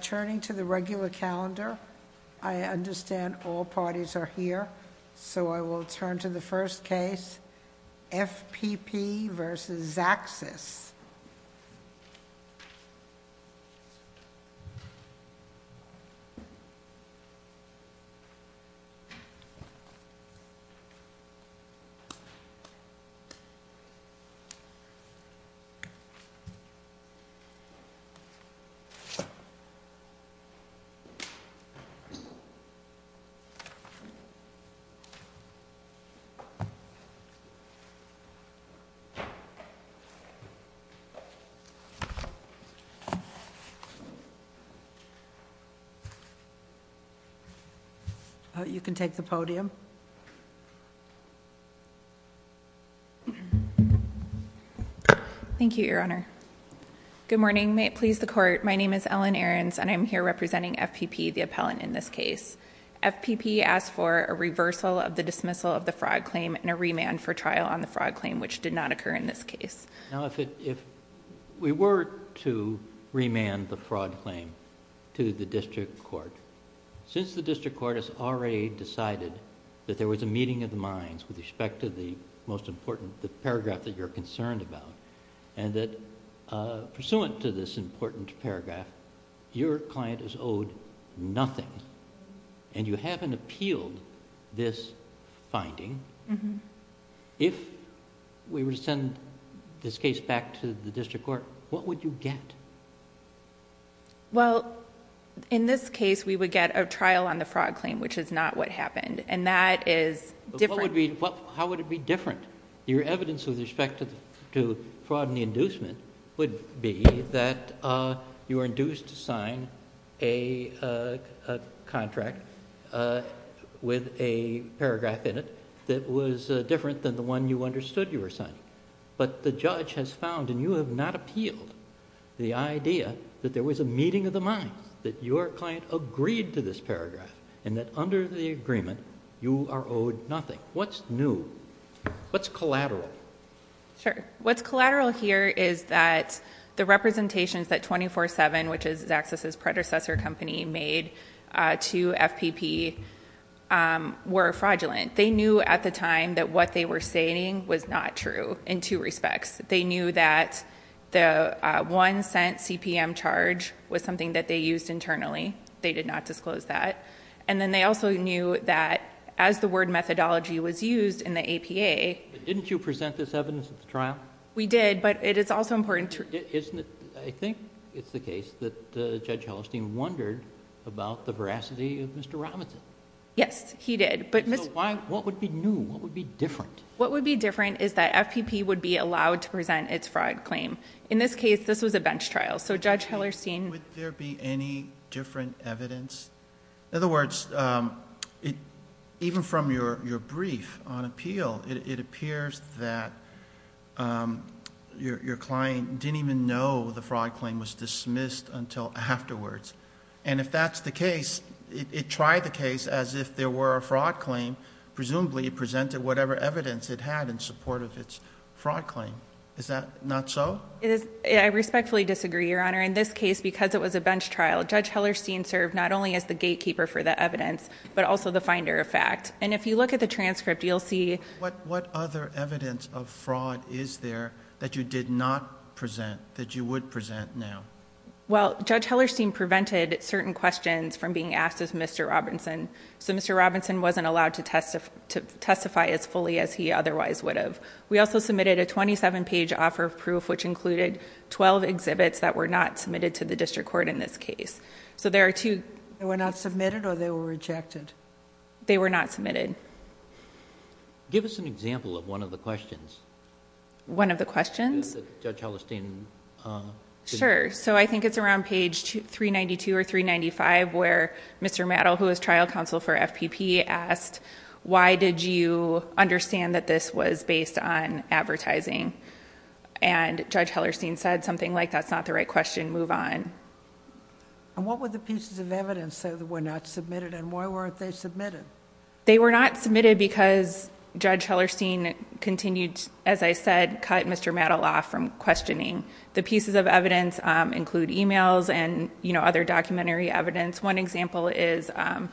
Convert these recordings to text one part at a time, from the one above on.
Turning to the regular calendar, I understand all parties are here, so I will turn to the first case, FPP v. Xaxis. You can take the podium. Thank you, Your Honor. Good morning. May it please the Court, my name is Ellen Ahrens, and I am here representing FPP, the appellant in this case. FPP asked for a reversal of the dismissal of the fraud claim and a remand for trial on the fraud claim, which did not occur in this case. Now, if we were to remand the fraud claim to the district court, since the district court has already decided that there was a meeting of the minds with respect to the most important paragraph that you're concerned about, and that pursuant to this important paragraph, your client is owed nothing, and you haven't appealed this finding. If we were to send this case back to the district court, what would you get? Well, in this case, we would get a trial on the fraud claim, which is not what happened, and that is different...... that was different than the one you understood you were signing. But the judge has found, and you have not appealed the idea that there was a meeting of the minds, that your client agreed to this paragraph, and that under the agreement, you are owed nothing. What's new? What's collateral? Sure. What's collateral here is that the representations that 24-7, which is Xaxis's predecessor company, made to FPP were fraudulent. They knew at the time that what they were saying was not true in two respects. They knew that the one-cent CPM charge was something that they used internally. They did not disclose that. And then they also knew that as the word methodology was used in the APA... But didn't you present this evidence at the trial? We did, but it is also important to... Isn't it... I think it's the case that Judge Hellestein wondered about the veracity of Mr. Robinson. Yes, he did. What would be new? What would be different? What would be different is that FPP would be allowed to present its fraud claim. In this case, this was a bench trial, so Judge Hellestein... Would there be any different evidence? In other words, even from your brief on appeal, it appears that your client didn't even know the fraud claim was dismissed until afterwards. And if that's the case, it tried the case as if there were a fraud claim. Presumably, it presented whatever evidence it had in support of its fraud claim. Is that not so? I respectfully disagree, Your Honor. In this case, because it was a bench trial, Judge Hellestein served not only as the gatekeeper for the evidence, but also the finder of fact. And if you look at the transcript, you'll see... What other evidence of fraud is there that you did not present, that you would present now? Well, Judge Hellestein prevented certain questions from being asked of Mr. Robinson. So, Mr. Robinson wasn't allowed to testify as fully as he otherwise would have. We also submitted a twenty-seven page offer of proof, which included twelve exhibits that were not submitted to the district court in this case. So, there are two... They were not submitted or they were rejected? They were not submitted. Give us an example of one of the questions. One of the questions? That Judge Hellestein... Sure. So, I think it's around page 392 or 395, where Mr. Mattel, who was trial counsel for FPP, asked... Why did you understand that this was based on advertising? And, Judge Hellestein said something like, that's not the right question, move on. And, what were the pieces of evidence that were not submitted and why weren't they submitted? They were not submitted because Judge Hellestein continued, as I said, cut Mr. Mattel off from questioning. The pieces of evidence include emails and, you know, other documentary evidence. One example is a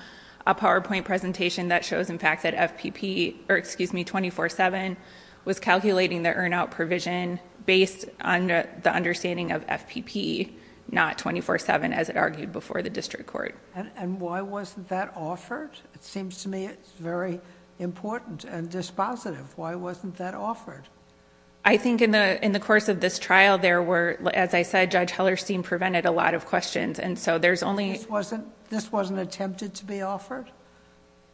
PowerPoint presentation that shows, in fact, that FPP... or, excuse me, 24-7 was calculating the earn-out provision based on the understanding of FPP, not 24-7, as it argued before the district court. And, why wasn't that offered? It seems to me it's very important and dispositive. Why wasn't that offered? I think in the course of this trial, there were, as I said, Judge Hellestein prevented a lot of questions. And so, there's only... This wasn't attempted to be offered?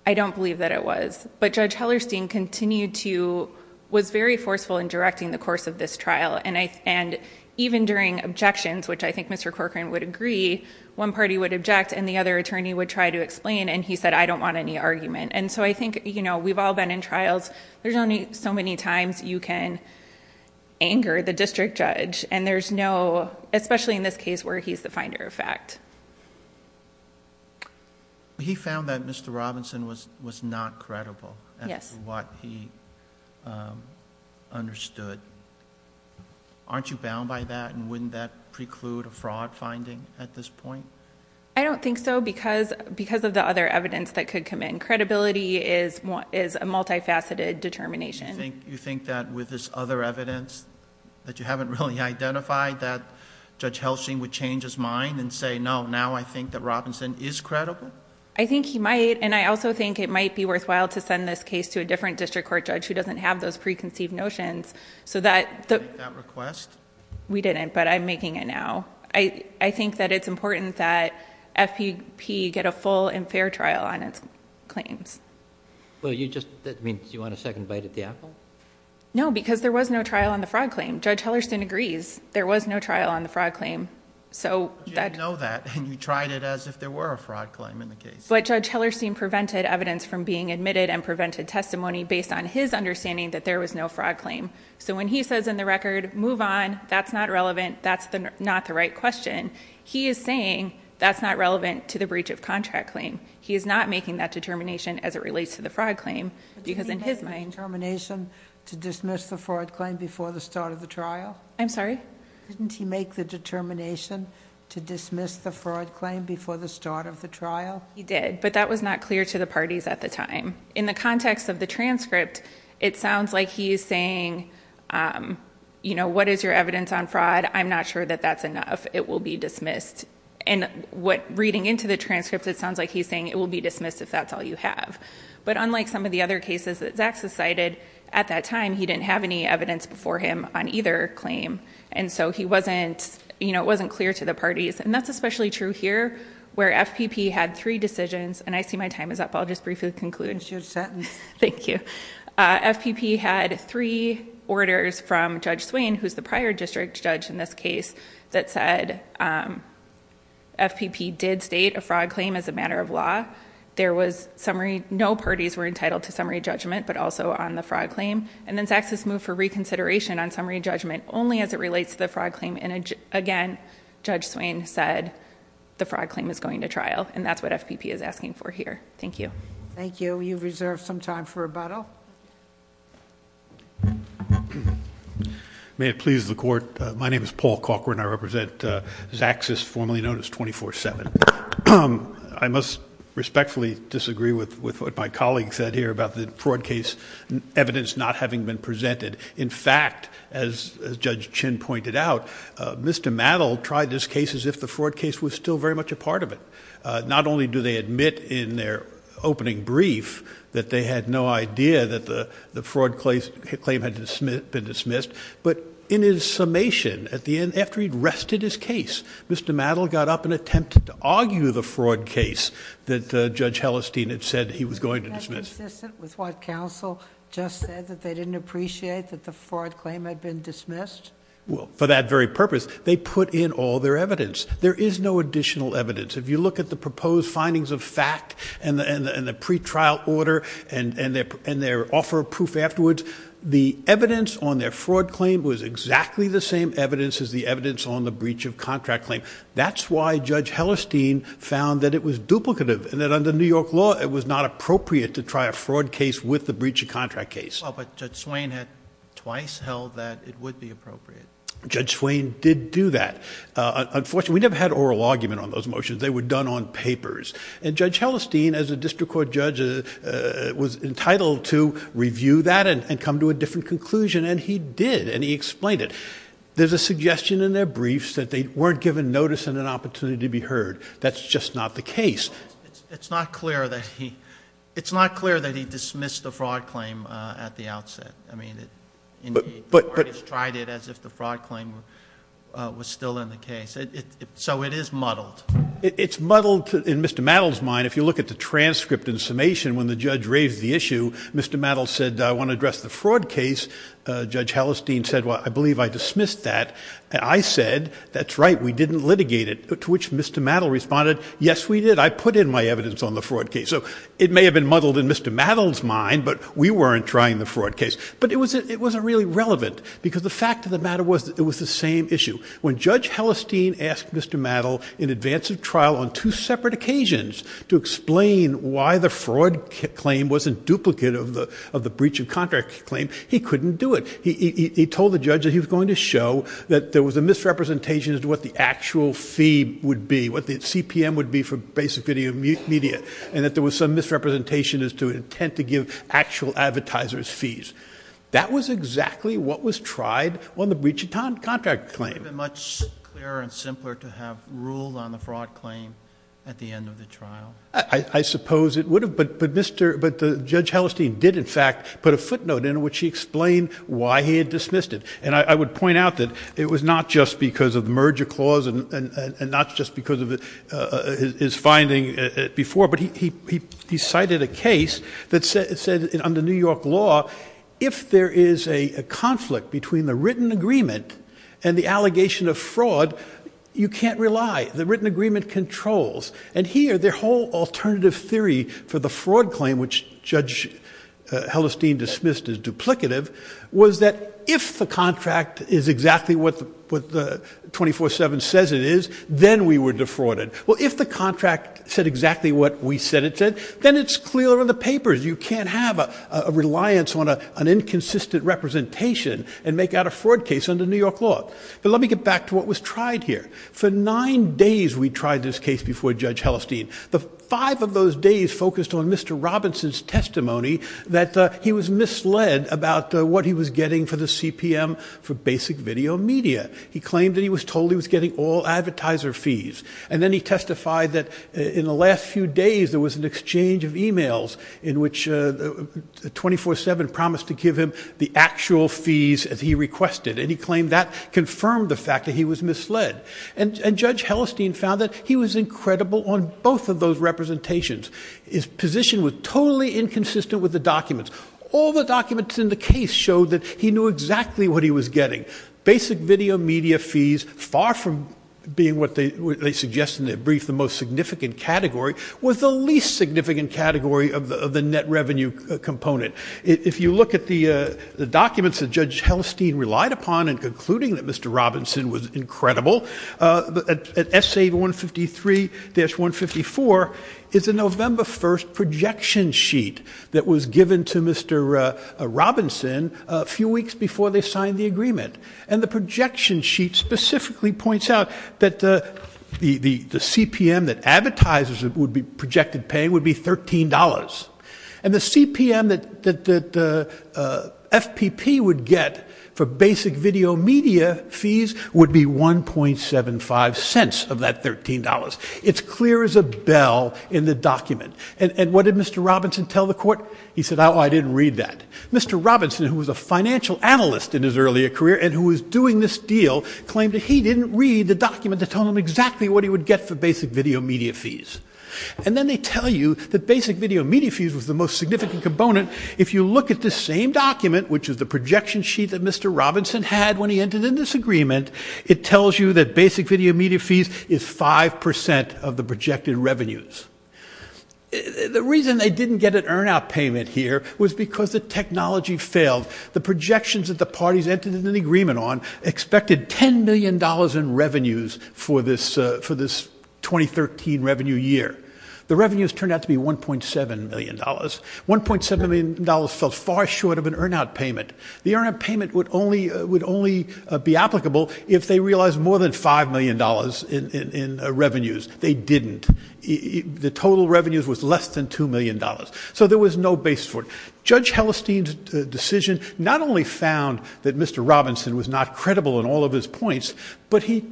I don't believe that it was. But, Judge Hellestein continued to... was very forceful in directing the course of this trial. And, even during objections, which I think Mr. Corcoran would agree, one party would object and the other attorney would try to explain. And, he said, I don't want any argument. And so, I think, you know, we've all been in trials. There's only so many times you can anger the district judge. And, there's no... especially in this case where he's the finder of fact. He found that Mr. Robinson was not credible... Yes.... as to what he understood. Aren't you bound by that? And, wouldn't that preclude a fraud finding at this point? I don't think so, because of the other evidence that could come in. Credibility is a multi-faceted determination. You think that with this other evidence, that you haven't really identified, that Judge Hellestein would change his mind and say, no, now I think that Robinson is credible? I think he might. And, I also think it might be worthwhile to send this case to a different district court judge who doesn't have those preconceived notions. So that... Did you make that request? We didn't, but I'm making it now. I think that it's important that FPP get a full and fair trial on its claims. Well, you just... that means you want a second bite at the apple? No, because there was no trial on the fraud claim. Judge Hellestein agrees. There was no trial on the fraud claim. So, that... You didn't know that, and you tried it as if there were a fraud claim in the case. But, Judge Hellestein prevented evidence from being admitted and prevented testimony based on his understanding that there was no fraud claim. So, when he says in the record, move on, that's not relevant, that's not the right question. He is saying, that's not relevant to the breach of contract claim. He is not making that determination as it relates to the fraud claim. Because, in his mind... Didn't he make the determination to dismiss the fraud claim before the start of the trial? I'm sorry? Didn't he make the determination to dismiss the fraud claim before the start of the trial? He did, but that was not clear to the parties at the time. In the context of the transcript, it sounds like he is saying, you know, what is your evidence on fraud? I'm not sure that that's enough. It will be dismissed. And, reading into the transcript, it sounds like he is saying, it will be dismissed if that's all you have. But, unlike some of the other cases that Zach has cited, at that time, he didn't have any evidence before him on either claim. And so, he wasn't... You know, it wasn't clear to the parties. And, that's especially true here, where FPP had three decisions. And, I see my time is up. So, I'll just briefly conclude. You're set. Thank you. FPP had three orders from Judge Swain, who is the prior district judge in this case, that said FPP did state a fraud claim as a matter of law. There was summary... no parties were entitled to summary judgment, but also on the fraud claim. And then, Zach says, move for reconsideration on summary judgment only as it relates to the fraud claim. And again, Judge Swain said, the fraud claim is going to trial. And, that's what FPP is asking for here. Thank you. Thank you. You've reserved some time for rebuttal. May it please the Court. My name is Paul Cochran. I represent ZAXIS, formerly known as 24-7. I must respectfully disagree with what my colleague said here about the fraud case evidence not having been presented. In fact, as Judge Chin pointed out, Mr. Mattel tried this case as if the fraud case was still very much a part of it. Not only do they admit in their opening brief that they had no idea that the fraud claim had been dismissed, but in his summation at the end, after he'd rested his case, Mr. Mattel got up and attempted to argue the fraud case that Judge Hellestein had said he was going to dismiss. Is that consistent with what counsel just said, that they didn't appreciate that the fraud claim had been dismissed? Well, for that very purpose, they put in all their evidence. There is no additional evidence. If you look at the proposed findings of fact and the pretrial order and their offer of proof afterwards, the evidence on their fraud claim was exactly the same evidence as the evidence on the breach of contract claim. That's why Judge Hellestein found that it was duplicative and that under New York law, it was not appropriate to try a fraud case with the breach of contract case. But Judge Swain had twice held that it would be appropriate. Judge Swain did do that. Unfortunately, we never had oral argument on those motions. They were done on papers, and Judge Hellestein, as a district court judge, was entitled to review that and come to a different conclusion, and he did, and he explained it. There's a suggestion in their briefs that they weren't given notice and an opportunity to be heard. That's just not the case. It's not clear that he dismissed the fraud claim at the outset. The court has tried it as if the fraud claim was still in the case. So it is muddled. It's muddled in Mr. Mattel's mind. If you look at the transcript and summation, when the judge raised the issue, Mr. Mattel said, I want to address the fraud case. Judge Hellestein said, well, I believe I dismissed that. I said, that's right, we didn't litigate it, to which Mr. Mattel responded, yes, we did. I put in my evidence on the fraud case. So it may have been muddled in Mr. Mattel's mind, but we weren't trying the fraud case. But it wasn't really relevant because the fact of the matter was that it was the same issue. When Judge Hellestein asked Mr. Mattel in advance of trial on two separate occasions to explain why the fraud claim wasn't duplicate of the breach of contract claim, he couldn't do it. He told the judge that he was going to show that there was a misrepresentation as to what the actual fee would be, what the CPM would be for basic video media, and that there was some misrepresentation as to intent to give actual advertisers fees. That was exactly what was tried on the breach of contract claim. It would have been much clearer and simpler to have ruled on the fraud claim at the end of the trial. I suppose it would have, but Judge Hellestein did in fact put a footnote in which he explained why he had dismissed it. And I would point out that it was not just because of the merger clause and not just because of his finding before, but he cited a case that said under New York law, if there is a conflict between the written agreement and the allegation of fraud, you can't rely. The written agreement controls. And here, their whole alternative theory for the fraud claim, which Judge Hellestein dismissed as duplicative, was that if the contract is exactly what the 24-7 says it is, then we were defrauded. Well, if the contract said exactly what we said it said, then it's clear on the papers. You can't have a reliance on an inconsistent representation and make out a fraud case under New York law. But let me get back to what was tried here. For nine days, we tried this case before Judge Hellestein. The five of those days focused on Mr. Robinson's testimony that he was misled about what he was getting for the CPM for basic video media. He claimed that he was told he was getting all advertiser fees. And then he testified that in the last few days, there was an exchange of e-mails in which 24-7 promised to give him the actual fees as he requested. And he claimed that confirmed the fact that he was misled. And Judge Hellestein found that he was incredible on both of those representations. His position was totally inconsistent with the documents. All the documents in the case showed that he knew exactly what he was getting. Basic video media fees, far from being what they suggest in their brief, the most significant category, was the least significant category of the net revenue component. If you look at the documents that Judge Hellestein relied upon in concluding that Mr. Robinson was incredible, at S.A. 153-154 is a November 1st projection sheet that was given to Mr. Robinson a few weeks before they signed the agreement. And the projection sheet specifically points out that the CPM that advertisers would be projected paying would be $13. And the CPM that FPP would get for basic video media fees would be 1.75 cents of that $13. It's clear as a bell in the document. And what did Mr. Robinson tell the court? He said, oh, I didn't read that. Mr. Robinson, who was a financial analyst in his earlier career and who was doing this deal, claimed that he didn't read the document that told him exactly what he would get for basic video media fees. And then they tell you that basic video media fees was the most significant component. If you look at the same document, which is the projection sheet that Mr. Robinson had when he entered in this agreement, it tells you that basic video media fees is 5% of the projected revenues. The reason they didn't get an earn-out payment here was because the technology failed. The projections that the parties entered into the agreement on expected $10 million in revenues for this 2013 revenue year. The revenues turned out to be $1.7 million. $1.7 million fell far short of an earn-out payment. The earn-out payment would only be applicable if they realized more than $5 million in revenues. They didn't. The total revenues was less than $2 million. So there was no base for it. Judge Hellestein's decision not only found that Mr. Robinson was not credible in all of his points, but he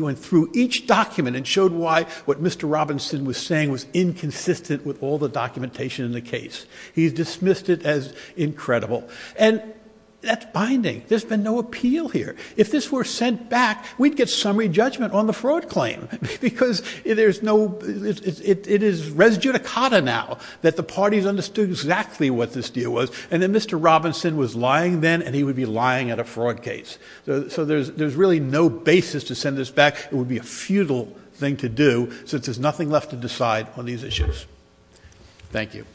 went through each document and showed why what Mr. Robinson was saying was inconsistent with all the documentation in the case. He dismissed it as incredible. And that's binding. There's been no appeal here. If this were sent back, we'd get summary judgment on the fraud claim. Because it is res judicata now that the parties understood exactly what this deal was, and that Mr. Robinson was lying then, and he would be lying at a fraud case. So there's really no basis to send this back. It would be a futile thing to do since there's nothing left to decide on these issues. Thank you.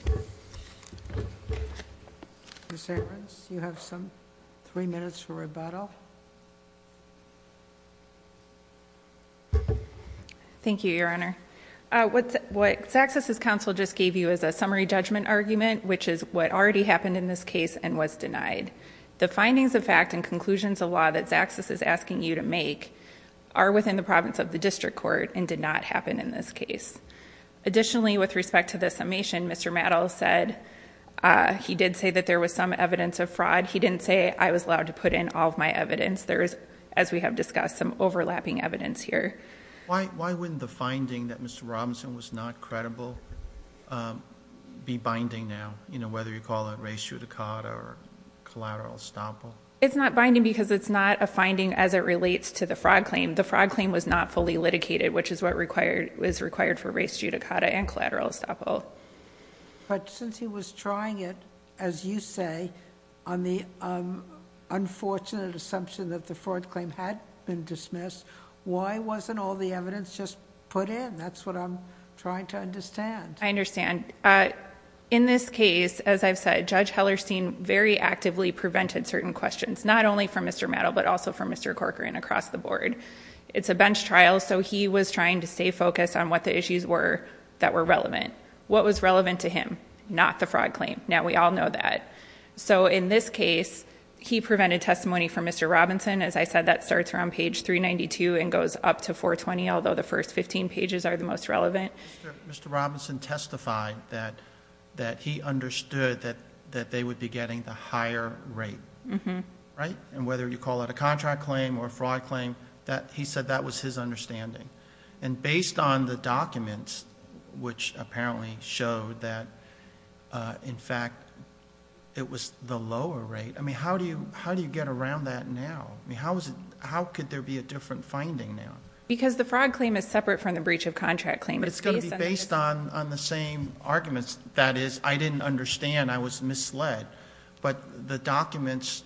Ms. Abrams, you have some three minutes for rebuttal. Thank you, Your Honor. What Zaxos' counsel just gave you is a summary judgment argument, which is what already happened in this case and was denied. The findings of fact and conclusions of law that Zaxos is asking you to make are within the province of the district court and did not happen in this case. Additionally, with respect to the summation, Mr. Mattel said he did say that there was some evidence of fraud. He didn't say I was allowed to put in all of my evidence. There is, as we have discussed, some overlapping evidence here. Why wouldn't the finding that Mr. Robinson was not credible be binding now, whether you call it res judicata or collateral estoppel? It's not binding because it's not a finding as it relates to the fraud claim. The fraud claim was not fully litigated, which is what is required for res judicata and collateral estoppel. But since he was trying it, as you say, on the unfortunate assumption that the fraud claim had been dismissed, why wasn't all the evidence just put in? That's what I'm trying to understand. I understand. In this case, as I've said, Judge Hellerstein very actively prevented certain questions, not only from Mr. Mattel, but also from Mr. Corcoran across the board. It's a bench trial, so he was trying to stay focused on what the issues were that were relevant. What was relevant to him, not the fraud claim. Now, we all know that. So in this case, he prevented testimony from Mr. Robinson. As I said, that starts around page 392 and goes up to 420, although the first 15 pages are the most relevant. Mr. Robinson testified that he understood that they would be getting the higher rate, right? And whether you call it a contract claim or a fraud claim, he said that was his understanding. And based on the documents, which apparently showed that, in fact, it was the lower rate, I mean, how do you get around that now? I mean, how could there be a different finding now? Because the fraud claim is separate from the breach of contract claim. But it's going to be based on the same arguments. That is, I didn't understand, I was misled. But the documents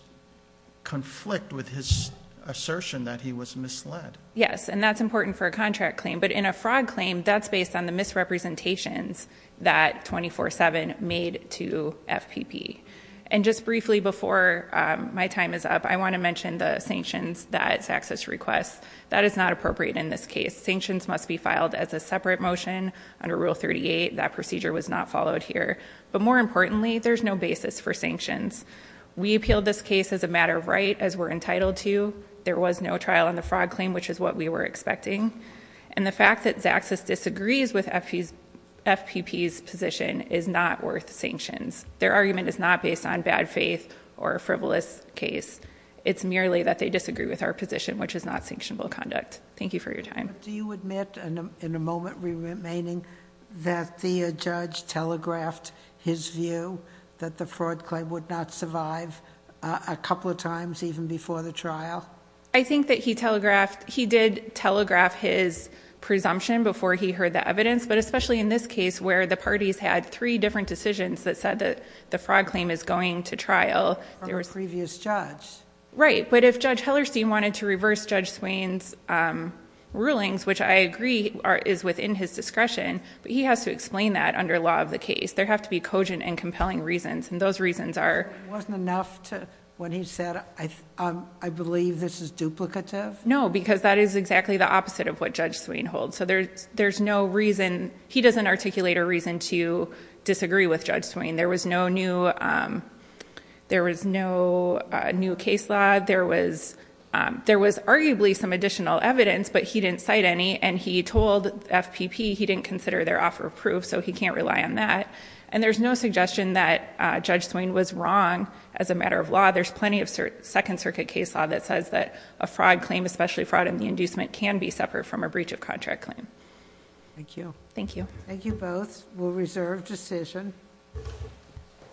conflict with his assertion that he was misled. Yes, and that's important for a contract claim. But in a fraud claim, that's based on the misrepresentations that 24-7 made to FPP. And just briefly before my time is up, I want to mention the sanctions that Zaxxas requests. That is not appropriate in this case. Sanctions must be filed as a separate motion under Rule 38. That procedure was not followed here. But more importantly, there's no basis for sanctions. We appealed this case as a matter of right, as we're entitled to. There was no trial on the fraud claim, which is what we were expecting. And the fact that Zaxxas disagrees with FPP's position is not worth sanctions. Their argument is not based on bad faith or a frivolous case. It's merely that they disagree with our position, which is not sanctionable conduct. Thank you for your time. Do you admit, in the moment remaining, that the judge telegraphed his view that the fraud claim would not survive a couple of times, even before the trial? I think that he telegraphed, he did telegraph his presumption before he heard the evidence. But especially in this case, where the parties had three different decisions that said that the fraud claim is going to trial. From a previous judge. Right. But if Judge Hellerstein wanted to reverse Judge Swain's rulings, which I agree is within his discretion, but he has to explain that under law of the case. There have to be cogent and compelling reasons. And those reasons are... It wasn't enough when he said, I believe this is duplicative? No, because that is exactly the opposite of what Judge Swain holds. So there's no reason... He doesn't articulate a reason to disagree with Judge Swain. There was no new case law. There was arguably some additional evidence, but he didn't cite any. And he told FPP he didn't consider their offer of proof, so he can't rely on that. And there's no suggestion that Judge Swain was wrong as a matter of law. There's plenty of Second Circuit case law that says that a fraud claim, especially fraud in the inducement, can be separate from a breach of contract claim. Thank you. Thank you. Thank you both. We'll reserve decision.